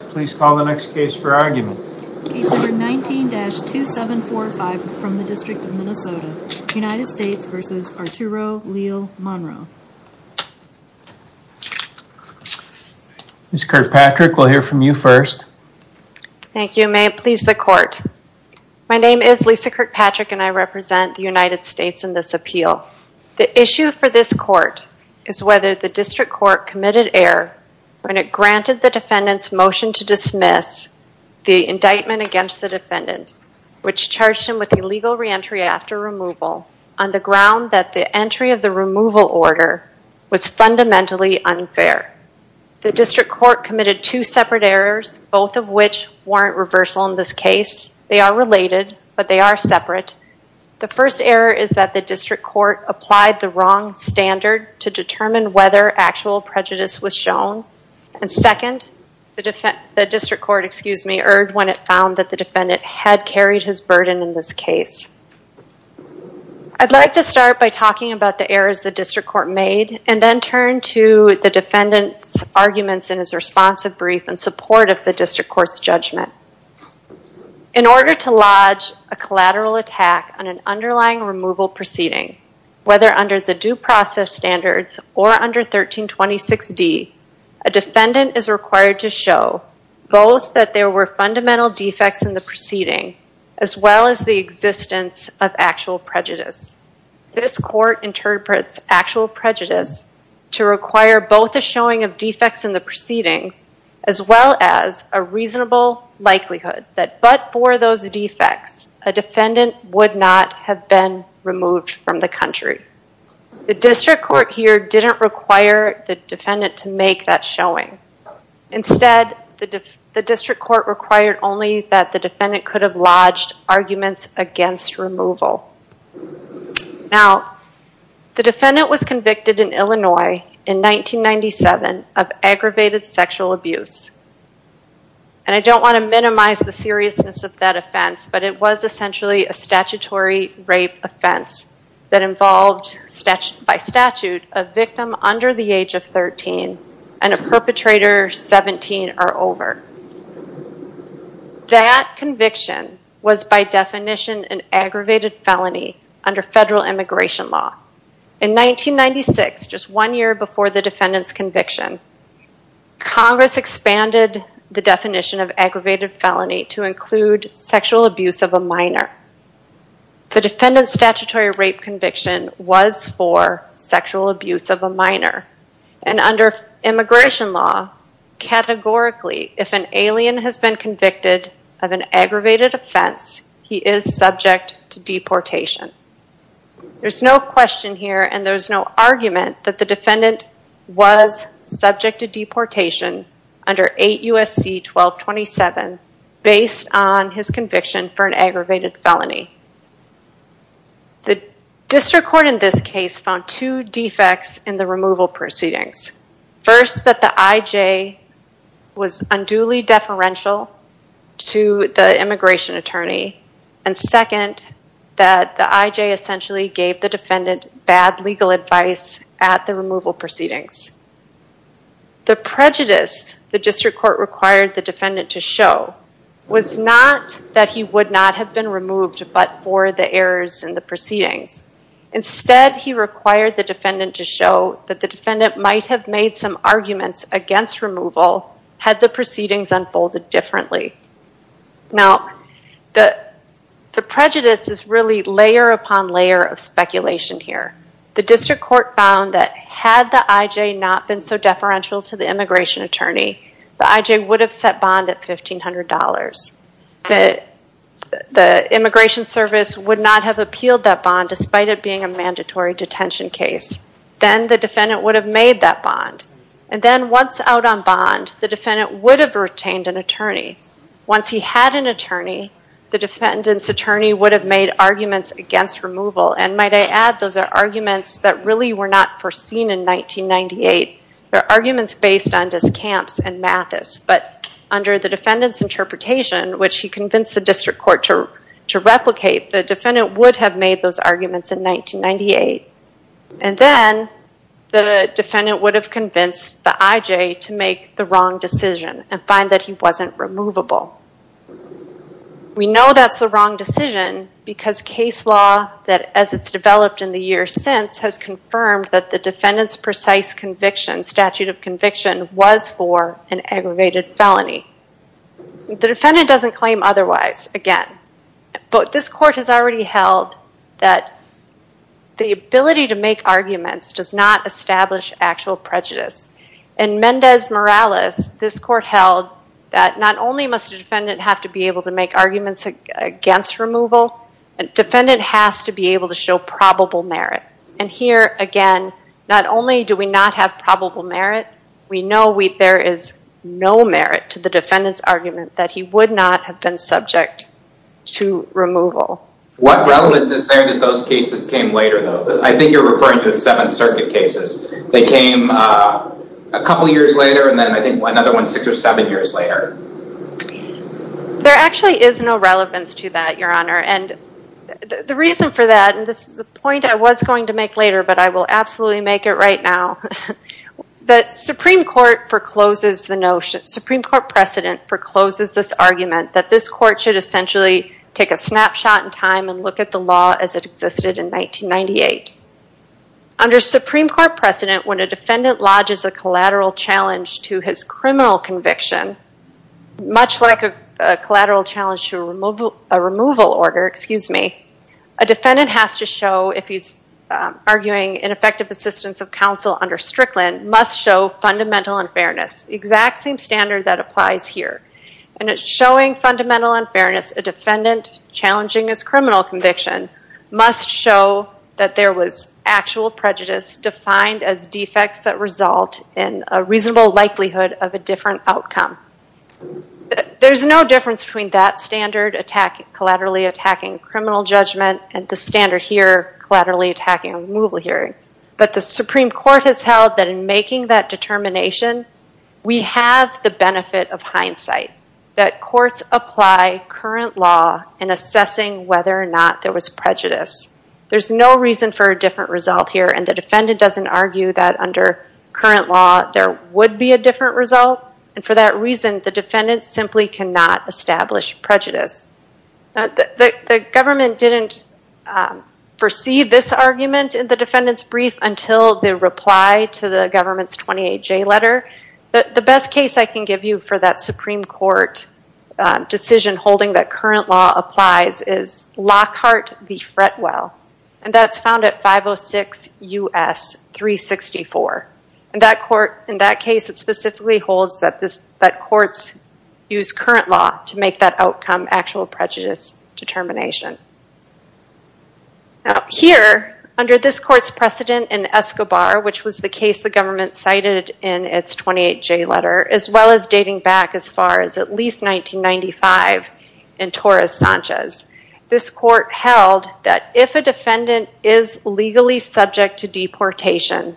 Please call the next case for argument. Case number 19-2745 from the District of Minnesota. United States v. Arturo Leal-Monroy. Ms. Kirkpatrick, we'll hear from you first. Thank you. May it please the court. My name is Lisa Kirkpatrick and I represent the United States in this appeal. The issue for this court is whether the district court committed error when it granted the defendant's motion to dismiss the indictment against the defendant, which charged him with illegal reentry after removal on the ground that the entry of the removal order was fundamentally unfair. The district court committed two separate errors, both of which warrant reversal in this case. They are related, but they are separate. The first error is that the district court applied the wrong standard to determine whether actual prejudice was shown. And second, the district court erred when it found that the defendant had carried his burden in this case. I'd like to start by talking about the errors the district court made and then turn to the defendant's arguments in his responsive brief in support of the district court's judgment. In order to lodge a collateral attack on an or under 1326D, a defendant is required to show both that there were fundamental defects in the proceeding, as well as the existence of actual prejudice. This court interprets actual prejudice to require both the showing of defects in the proceedings, as well as a reasonable likelihood that but for those defects, a defendant would not have been moved from the country. The district court here didn't require the defendant to make that showing. Instead, the district court required only that the defendant could have lodged arguments against removal. Now, the defendant was convicted in Illinois in 1997 of aggravated sexual abuse. And I don't want to minimize the seriousness of that offense, but it was essentially a statutory rape offense that involved, by statute, a victim under the age of 13 and a perpetrator 17 or over. That conviction was by definition an aggravated felony under federal immigration law. In 1996, just one year before the defendant's conviction, Congress expanded the definition of aggravated felony to include sexual abuse of a minor. The defendant's statutory rape conviction was for sexual abuse of a minor. And under immigration law, categorically, if an alien has been convicted of an aggravated offense, he is subject to deportation. There's no question here and there's no argument that the defendant was subject to deportation under 8 U.S.C. 1227 based on his conviction for an aggravated felony. The district court in this case found two defects in the removal proceedings. First, that the I.J. was unduly deferential to the immigration attorney. And second, that the I.J. essentially gave the defendant bad legal advice at the removal proceedings. The prejudice the district court required the defendant to show was not that he would not have been removed but for the errors in the proceedings. Instead, he required the defendant to show that the defendant might have made some arguments against removal had the proceedings unfolded differently. Now, the prejudice is really layer upon layer of speculation here. The district court found that had the I.J. not been so deferential to the immigration attorney, the I.J. would have set bond at $1,500. The immigration service would not have appealed that bond despite it being a mandatory detention case. Then the defendant would have made that bond. And then once out on bond, the defendant would have retained an attorney. Once he had an attorney, the defendant's attorney would have made arguments against removal. And might I add, those are arguments that really were not foreseen in 1998. They're arguments based on Descamps and Mathis. But under the defendant's interpretation, which he convinced the district court to replicate, the defendant would have made those arguments in 1998. And then the defendant would have convinced the I.J. to make the wrong decision and find that he wasn't removable. We know that's the wrong decision because case law that as it's developed in the years since has confirmed that the defendant's precise conviction, statute of conviction was for an aggravated felony. The defendant doesn't claim otherwise again. But this court has already held that the ability to make arguments does not establish actual prejudice. In Mendez Morales, this court held that not only must a defendant have to be able to make arguments against removal, a defendant has to be able to show probable merit. And here again, not only do we not have probable merit, we know there is no merit to the defendant's argument that he would not have been subject to removal. What relevance is there that those cases came later though? I think you're referring to the Seventh Circuit cases. They came a couple years later, and then I think another one six or seven years later. There actually is no relevance to that, Your Honor. And the reason for that, and this is a point I was going to make later, but I will absolutely make it right now, that Supreme Court forecloses the notion, Supreme Court precedent forecloses this argument that this court should essentially take a snapshot in time and look at the law as it existed in 1998. Under Supreme Court precedent, when a defendant lodges a collateral challenge to his criminal conviction, much like a collateral challenge to a removal order, excuse me, a defendant has to show, if he's arguing ineffective assistance of counsel under Strickland, must show fundamental unfairness. Exact same standard that applies here. And it's showing fundamental unfairness, a defendant challenging his criminal conviction must show that there was actual prejudice defined as defects that result in a reasonable likelihood of a different outcome. There's no difference between that standard, collaterally attacking criminal judgment, and the standard here, collaterally attacking a removal hearing. But the Supreme Court has held that in court, courts apply current law in assessing whether or not there was prejudice. There's no reason for a different result here, and the defendant doesn't argue that under current law, there would be a different result, and for that reason, the defendant simply cannot establish prejudice. The government didn't foresee this argument in the defendant's brief until the reply to the government's 28-J letter. The best case I can give you for that Supreme Court decision holding that current law applies is Lockhart v. Fretwell, and that's found at 506 U.S. 364. In that case, it specifically holds that courts use current law to make that outcome actual prejudice determination. Now, here, under this court's precedent in Escobar, which was the case the government cited in its 28-J letter, as well as dating back as far as at least 1995 in Torres-Sanchez, this court held that if a defendant is legally subject to deportation,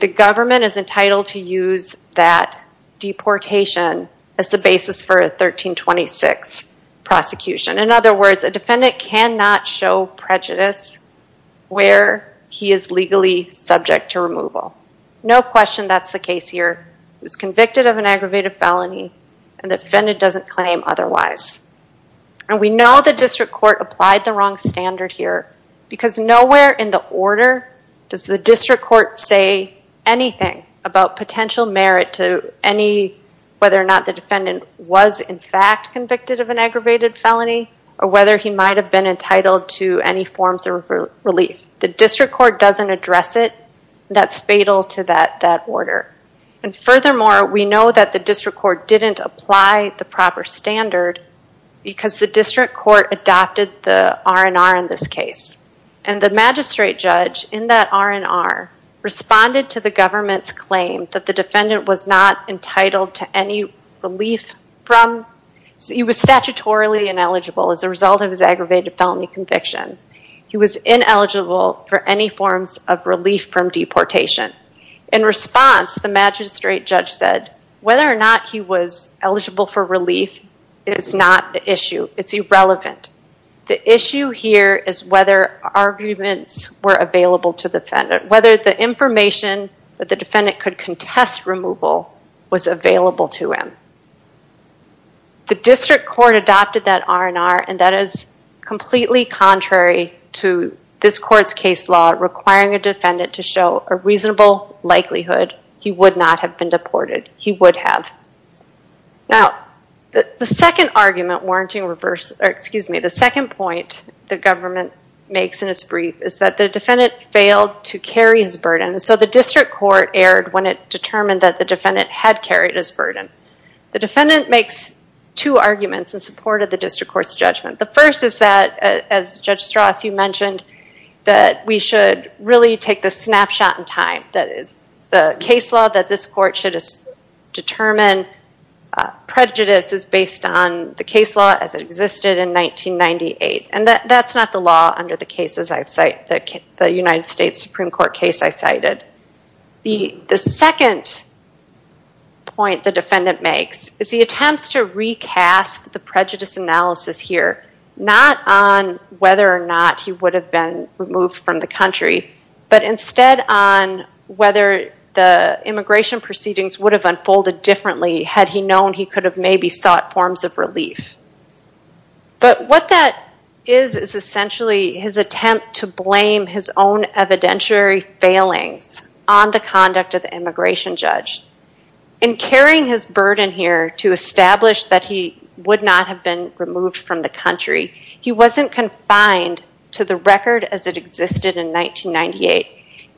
the government is entitled to use that deportation as the basis for a 1326 prosecution. In other words, a defendant cannot show prejudice where he is legally subject to removal. No question that's the case here. He was convicted of an aggravated felony, and the defendant doesn't claim otherwise, and we know the district court applied the wrong standard here because nowhere in the order does the district court say anything about potential merit to whether or not the defendant was in fact convicted of an aggravated felony or whether he might have been entitled to any forms of relief. The district court doesn't address it. That's fatal to that order, and furthermore, we know that the district court didn't apply the proper standard because the district court adopted the R&R in this case, and the magistrate judge in that R&R responded to the government's entitlement. He was statutorily ineligible as a result of his aggravated felony conviction. He was ineligible for any forms of relief from deportation. In response, the magistrate judge said whether or not he was eligible for relief is not the issue. It's irrelevant. The issue here is whether arguments were available to the defendant, whether the information that the defendant could test removal was available to him. The district court adopted that R&R, and that is completely contrary to this court's case law requiring a defendant to show a reasonable likelihood he would not have been deported. He would have. Now, the second argument warranting reverse, or excuse me, the second point the government makes in its brief is that the defendant failed to carry his burden, so the district court erred when it determined that the defendant had carried his burden. The defendant makes two arguments in support of the district court's judgment. The first is that, as Judge Strauss, you mentioned, that we should really take the snapshot in time, that the case law that this court should determine prejudice is based on the case law as it existed in 1998. And that's not the law under the United States Supreme Court case I cited. The second point the defendant makes is he attempts to recast the prejudice analysis here, not on whether or not he would have been removed from the country, but instead on whether the immigration proceedings would have unfolded differently had he known he could have maybe forms of relief. But what that is is essentially his attempt to blame his own evidentiary failings on the conduct of the immigration judge. In carrying his burden here to establish that he would not have been removed from the country, he wasn't confined to the record as it existed in 1998.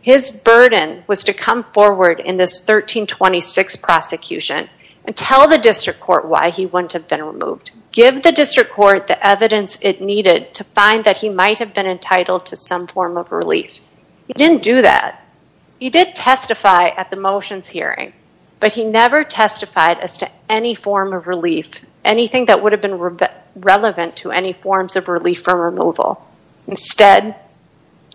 His burden was to come forward in this 1326 prosecution and tell the district court why he wouldn't have been removed. Give the district court the evidence it needed to find that he might have been entitled to some form of relief. He didn't do that. He did testify at the motions hearing, but he never testified as to any form of relief, anything that would have been relevant to any forms of relief or removal. Instead,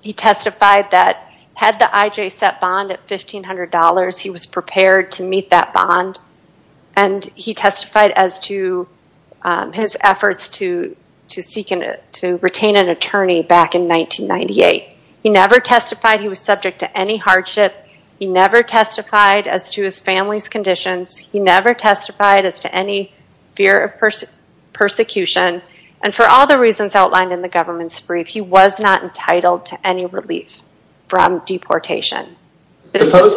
he testified that had the IJSEP bond at $1,500, he was prepared to meet that bond, and he testified as to his efforts to retain an attorney back in 1998. He never testified he was subject to any hardship. He never testified as to his family's conditions. He never testified as to any fear of persecution, and for all the reasons outlined in the government's brief, he was not entitled to any deportation. Suppose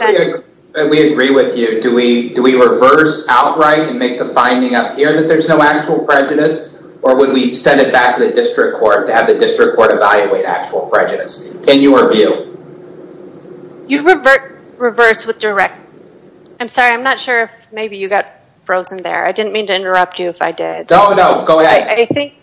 we agree with you, do we reverse outright and make the finding up here that there's no actual prejudice, or would we send it back to the district court to have the district court evaluate actual prejudice? In your view? You'd reverse with direct... I'm sorry, I'm not sure if maybe you got frozen there. I didn't mean to interrupt you if I did. No, no, go ahead. I think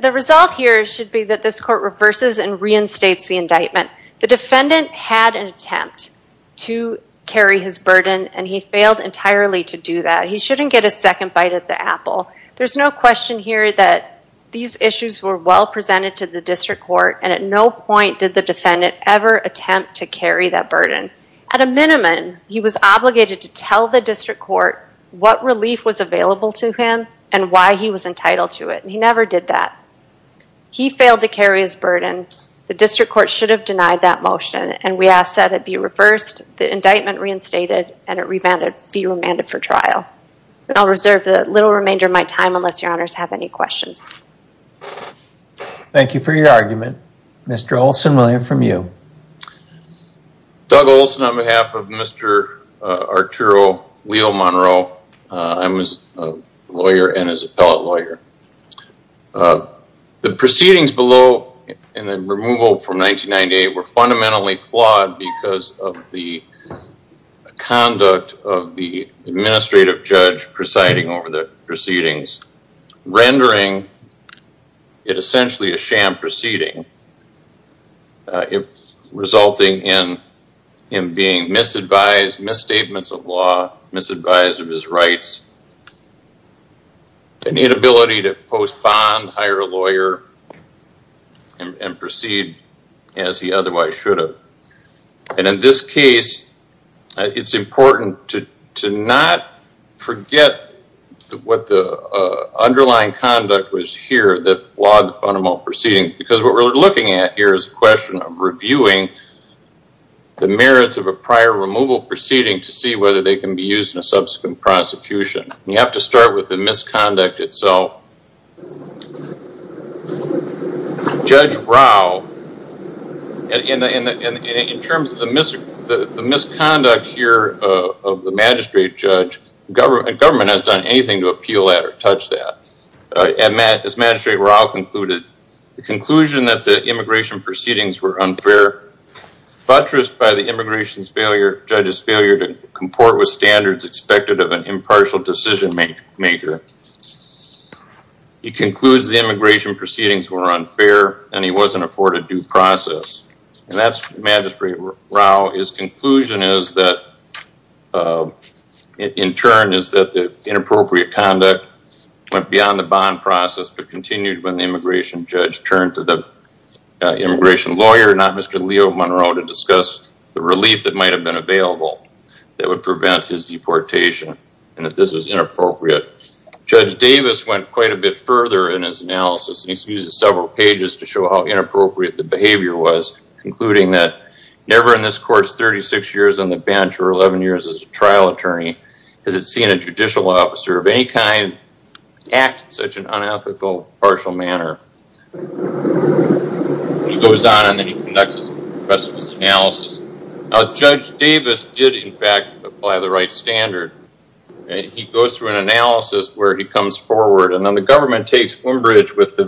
the result here should be that this court reverses and reinstates the defendant had an attempt to carry his burden, and he failed entirely to do that. He shouldn't get a second bite at the apple. There's no question here that these issues were well presented to the district court, and at no point did the defendant ever attempt to carry that burden. At a minimum, he was obligated to tell the district court what relief was available to him and why he was entitled to it, and he never did that. He failed to carry his burden. The district court should have denied that motion, and we ask that it be reversed, the indictment reinstated, and it be remanded for trial. I'll reserve the little remainder of my time unless your honors have any questions. Thank you for your argument. Mr. Olson, we'll hear from you. Doug Olson on behalf of Mr. Arturo Leal-Monroe. I was a lawyer and his appellate lawyer. The proceedings below and the removal from 1998 were fundamentally flawed because of the conduct of the administrative judge presiding over the proceedings, rendering it essentially a sham proceeding, resulting in him being misadvised, misstatements of law, misadvised of his rights, and the inability to postpone, hire a lawyer, and proceed as he otherwise should have. And in this case, it's important to not forget what the underlying conduct was here that flawed the fundamental proceedings because what we're looking at here is a question of reviewing the merits of a prior removal proceeding to see whether they can be used in a subsequent prosecution. You have to start with the misconduct itself. Judge Rao, in terms of the misconduct here of the magistrate judge, the government has done anything to appeal that or touch that. As Magistrate Rao concluded, the conclusion that the immigration proceedings were unfair was buttressed by the immigration judge's failure to comport with standards expected of an impartial decision maker. He concludes the immigration proceedings were unfair and he wasn't afforded due process. And that's Magistrate Rao, his conclusion is that, in turn, is that the inappropriate conduct went beyond the bond process but continued when the immigration judge turned to the immigration lawyer, not Mr. Leo available that would prevent his deportation and that this was inappropriate. Judge Davis went quite a bit further in his analysis and he's used several pages to show how inappropriate the behavior was, concluding that never in this court's 36 years on the bench or 11 years as a trial attorney has it seen a judicial officer of any kind act in such an unethical, partial manner. He goes on and then he conducts his analysis. Judge Davis did, in fact, apply the right standard. He goes through an analysis where he comes forward and then the government takes umbrage with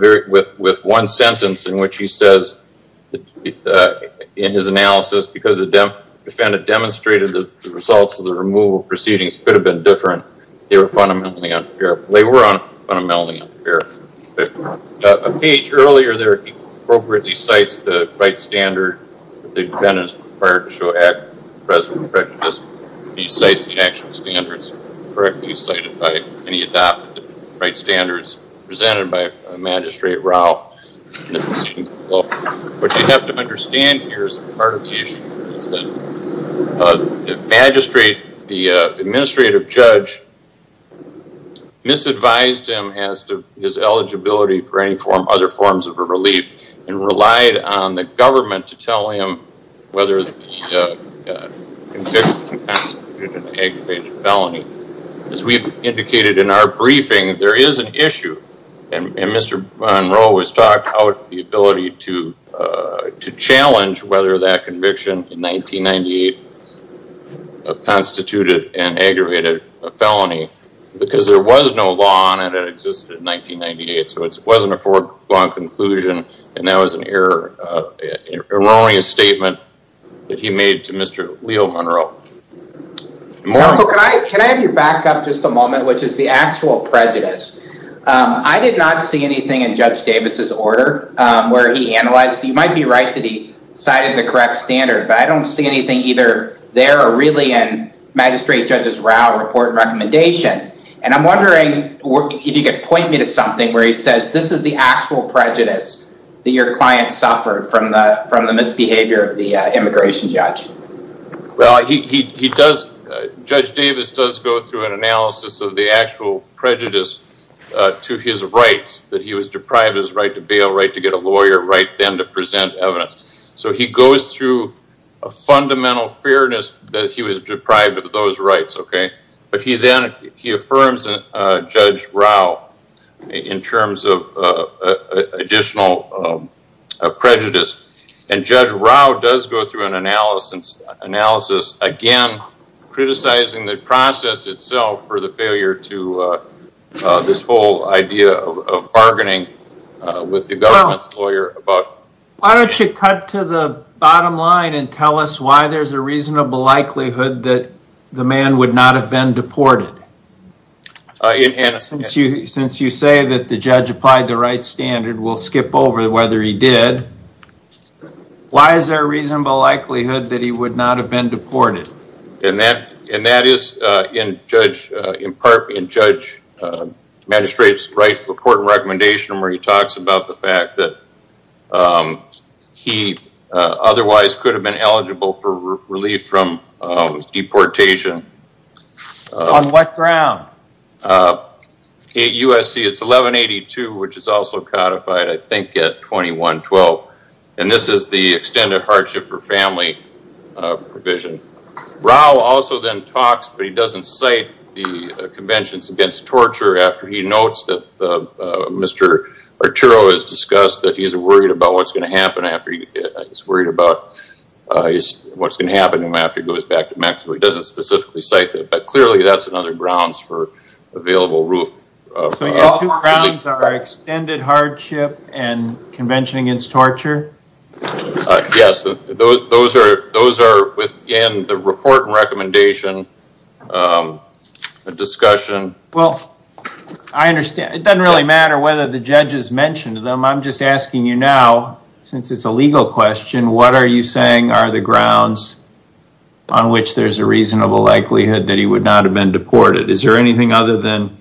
one sentence in which he says, in his analysis, because the defendant demonstrated that the results of the removal proceedings could have been different, they were fundamentally unfair. A page earlier there, he appropriately cites the right standard that the defendant is required to show at present. He cites the actual standards correctly cited by and he adopted the right standards presented by Magistrate Rao. What you have to understand here is part of the issue is that the Magistrate, the Magistrate recognized him as to his eligibility for any other forms of relief and relied on the government to tell him whether the conviction constituted an aggravated felony. As we've indicated in our briefing, there is an issue and Mr. Monroe has talked about the ability to challenge whether that conviction in 1998 constituted an aggravated felony because there was no law on it that existed in 1998, so it wasn't a foregone conclusion and that was an erroneous statement that he made to Mr. Leo Monroe. Can I have you back up just a moment, which is the actual prejudice. I did not see anything in Judge Davis's order where he analyzed, you might be right that he cited the correct standard, but I don't see anything either there or really in Magistrate Judge Rao's report and recommendation and I'm wondering if you could point me to something where he says this is the actual prejudice that your client suffered from the misbehavior of the immigration judge. Well, Judge Davis does go through an analysis of the actual prejudice to his rights that he was deprived his right to bail, right to get a lawyer, right then to present evidence, so he goes through a fundamental fairness that he was deprived of those rights, okay, but he then he affirms Judge Rao in terms of additional prejudice and Judge Rao does go through an analysis again criticizing the process itself for the failure to this whole idea of bargaining with the government's lawyer. Why don't you cut to the bottom line and tell us why there's a reasonable likelihood that the man would not have been deported? Since you say that the judge applied the right standard, we'll skip over whether he did, why is there a reasonable likelihood that he would not have been in part in Judge Magistrate's right report and recommendation where he talks about the fact that he otherwise could have been eligible for relief from deportation? On what ground? USC, it's 1182 which is also codified I think at 2112 and this is the extended hardship for family provision. Rao also then talks but he doesn't cite the conventions against torture after he notes that Mr. Arturo has discussed that he's worried about what's going to happen after he's worried about what's going to happen to him after he goes back to Mexico, he doesn't specifically cite that but clearly that's another grounds for available roof. So your two grounds are extended hardship and convention against torture? Yes, those are within the report and recommendation discussion. Well, I understand, it doesn't really matter whether the judges mentioned them, I'm just asking you now since it's a legal question, what are you saying are the grounds on which there's a reasonable likelihood that he would not have been deported? Is there anything other than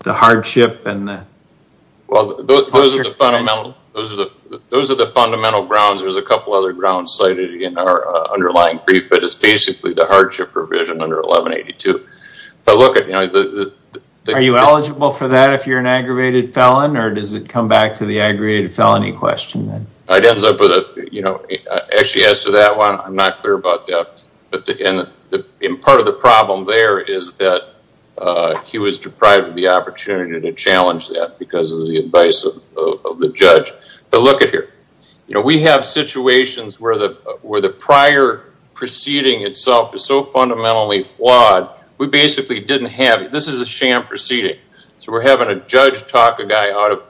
the hardship? Well, those are the fundamental grounds, there's a couple other grounds cited in our underlying brief but it's basically the hardship provision under 1182. Are you eligible for that if you're an aggravated felon or does it come back to the aggravated felony question? It ends up with, actually as to that one, I'm not clear about that, and part of the problem there is that he was deprived of the opportunity to challenge that because of the advice of the judge. But look at here, we have situations where the prior proceeding itself is so fundamentally flawed, we basically didn't have, this is a sham proceeding, so we're having a judge talk a guy out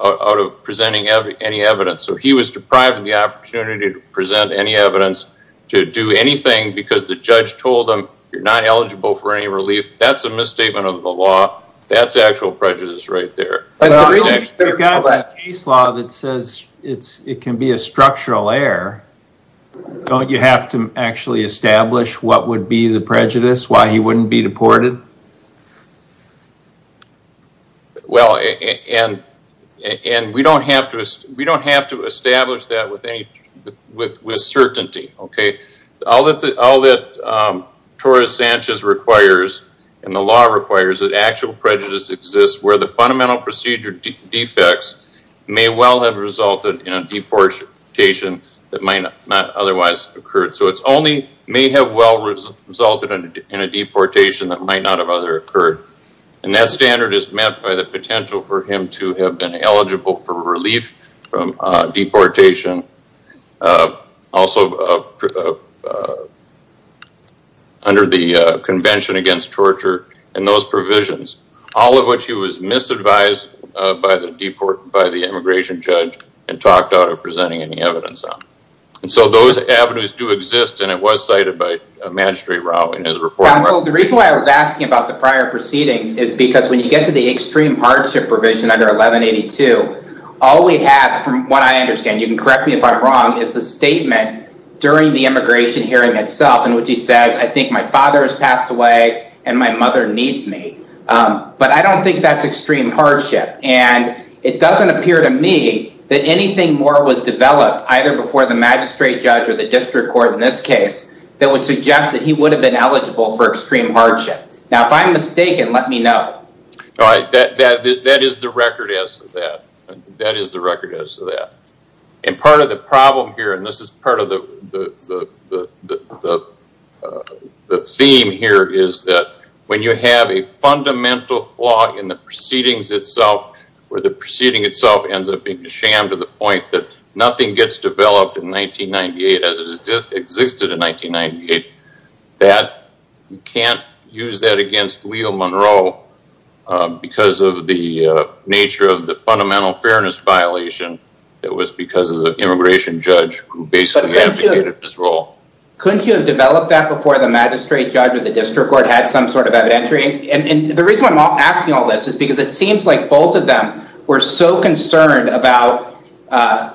of presenting any evidence. So he was deprived of the opportunity to present any evidence to do anything because the judge told him you're not eligible for any relief, that's a misstatement of the law, that's actual prejudice right there. You've got a case law that says it can be a structural error, don't you have to actually establish what would be the prejudice, why he wouldn't be deported? Well, and we don't have to establish that with certainty. All that Torres Sanchez requires and the law requires is that actual prejudice exists where the fundamental procedure defects may well have resulted in a deportation that might not otherwise have occurred. So it only may have well resulted in a deportation that might not have other occurred. And that standard is met by the potential for him to have been eligible for relief from deportation, also under the Convention Against Torture and those provisions. All of which he was misadvised by the immigration judge and talked out of presenting any evidence on. And so those avenues do exist and it was cited by Magistrate Rao in his report. The reason why I was asking about the prior proceedings is because when you get to the extreme hardship provision under 1182, all we have from what I understand, you can correct me if I'm wrong, is the statement during the immigration hearing itself in which he says, I think my father has passed away and my mother needs me. But I don't think that's extreme hardship and it doesn't appear to me that anything more was developed either before the magistrate judge or the district court in this case that would suggest that he would have been eligible for extreme hardship. Now if I'm mistaken, let me know. All right, that is the record as to that. That is the record as to that. And part of the problem here, and this is part of the theme here, is that when you have a fundamental flaw in the proceedings itself, where the proceeding itself ends up being shamed to the point that nothing gets developed in 1998 as it existed in 1998, that you can't use that against Leo Monroe because of the nature of the fundamental fairness violation that was because of the immigration judge who basically had to give up his role. Couldn't you have developed that before the magistrate judge or the district court had some sort of evidentiary? And the reason why I'm asking all this is because it seems like both of them were so concerned about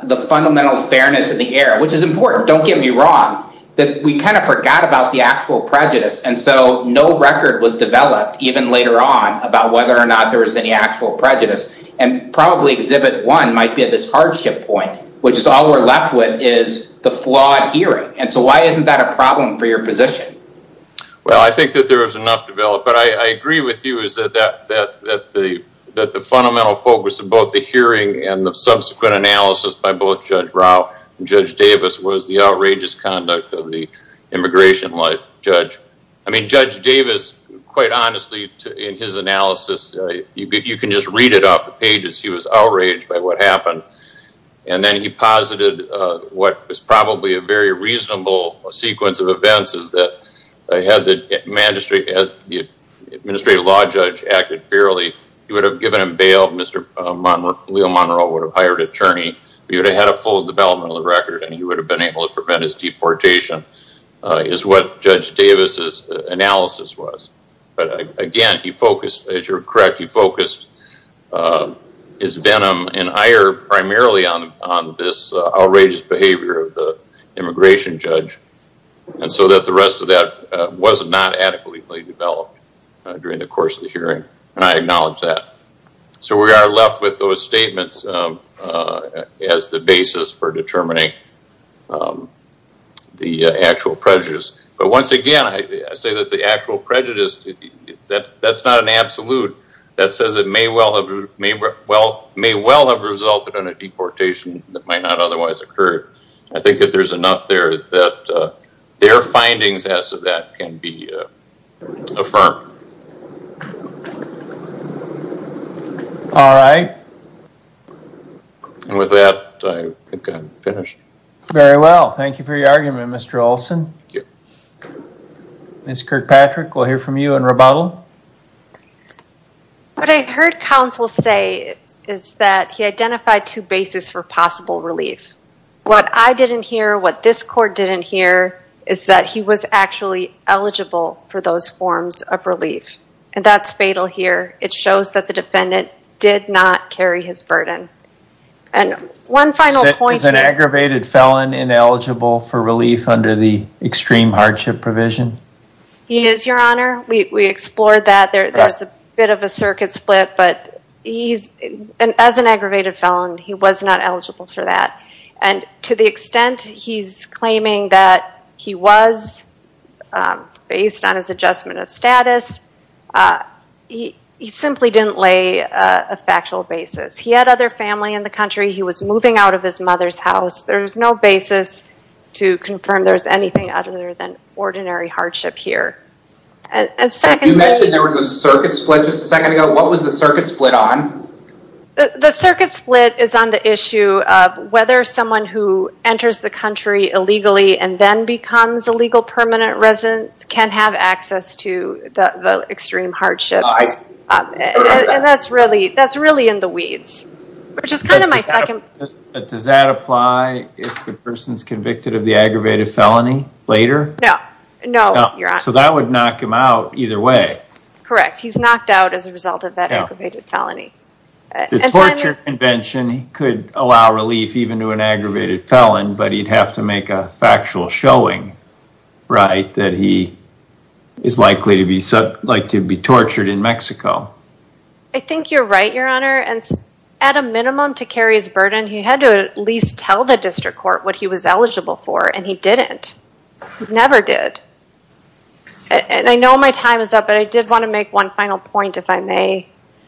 the fundamental fairness in the air, which is important, don't get me wrong, that we kind of forgot about the actual prejudice. And so no record was developed even later on about whether or not there was any actual prejudice. And probably exhibit one might be at this hardship point, which is all we're left with is the flawed hearing. And so why isn't that a problem for your position? Well, I think that there was enough developed. But I agree with you is that the fundamental focus of both the hearing and the subsequent analysis by both Judge Rao and Judge Davis was the outrageous conduct of the immigration judge. I mean, Judge Davis, quite honestly, in his analysis, you can just read it off the pages. He was outraged by what happened. And then he posited what was probably a very reasonable sequence of events is that had the administrative law judge acted fairly, he would have given him bail, Mr. Monroe would have hired an attorney, he would have had a full development of the record and he would have been able to prevent his deportation is what Judge Davis' analysis was. But again, he focused, as you're correct, he focused his venom and ire primarily on this outrageous behavior of the immigration judge. And so that the rest of that was not adequately developed during the course of the hearing. And I acknowledge that. So we are left with those statements as the basis for determining the actual prejudice. But once again, I say that the actual prejudice, that's not an absolute. That says it may well have resulted in a deportation that might not otherwise occurred. I think that there's enough there that their findings as to that can be affirmed. All right. And with that, I think I'm finished. Very well. Thank you for your argument, Mr. Olson. Thank you. Ms. Kirkpatrick, we'll hear from you in rebuttal. What I heard counsel say is that he identified two bases for possible relief. What I didn't hear, what this court didn't hear, is that he was actually eligible for those forms of relief. And that's fatal here. It shows that the defendant did not carry his burden. And one final point- Is an aggravated felon ineligible for relief under the extreme hardship provision? He is, your honor. We explored that. There's a bit of a circuit split. But as an aggravated felon, he was not eligible for that. And to the extent he's claiming that he was based on his adjustment of status, he simply didn't lay a factual basis. He had other family in the country. He was moving out of his mother's house. There's no basis to confirm there's anything other than ordinary hardship here. You mentioned there was a circuit split just a second ago. What was the circuit split on? The circuit split is on the issue of whether someone who enters the country illegally and then becomes a legal permanent resident can have access to the country. Does that apply if the person is convicted of the aggravated felony later? No. So that would knock him out either way. Correct. He's knocked out as a result of that aggravated felony. The torture convention could allow relief even to an aggravated felon, but he'd have to make a factual showing, right, that he is likely to be tortured in Mexico. I think you're right, Your Honor. And at a minimum to carry his burden, he had to at least tell the district court what he was eligible for, and he didn't. He never did. And I know my time is up, but I did want to make one final point, if I may.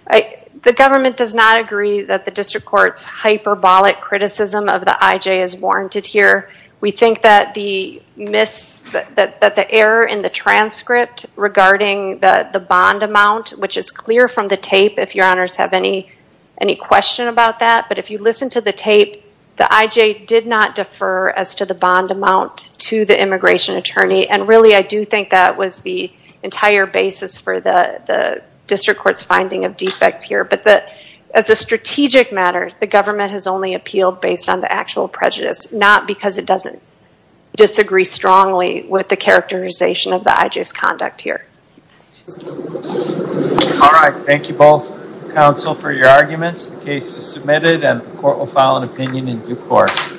The government does not agree that the district court's hyperbolic criticism of the IJ is warranted here. We think that the error in the if Your Honors have any question about that. But if you listen to the tape, the IJ did not defer as to the bond amount to the immigration attorney. And really, I do think that was the entire basis for the district court's finding of defects here. But as a strategic matter, the government has only appealed based on the actual prejudice, not because it doesn't disagree strongly with characterization of the IJ's conduct here. All right. Thank you both, counsel, for your arguments. The case is submitted and the court will file an opinion in due course.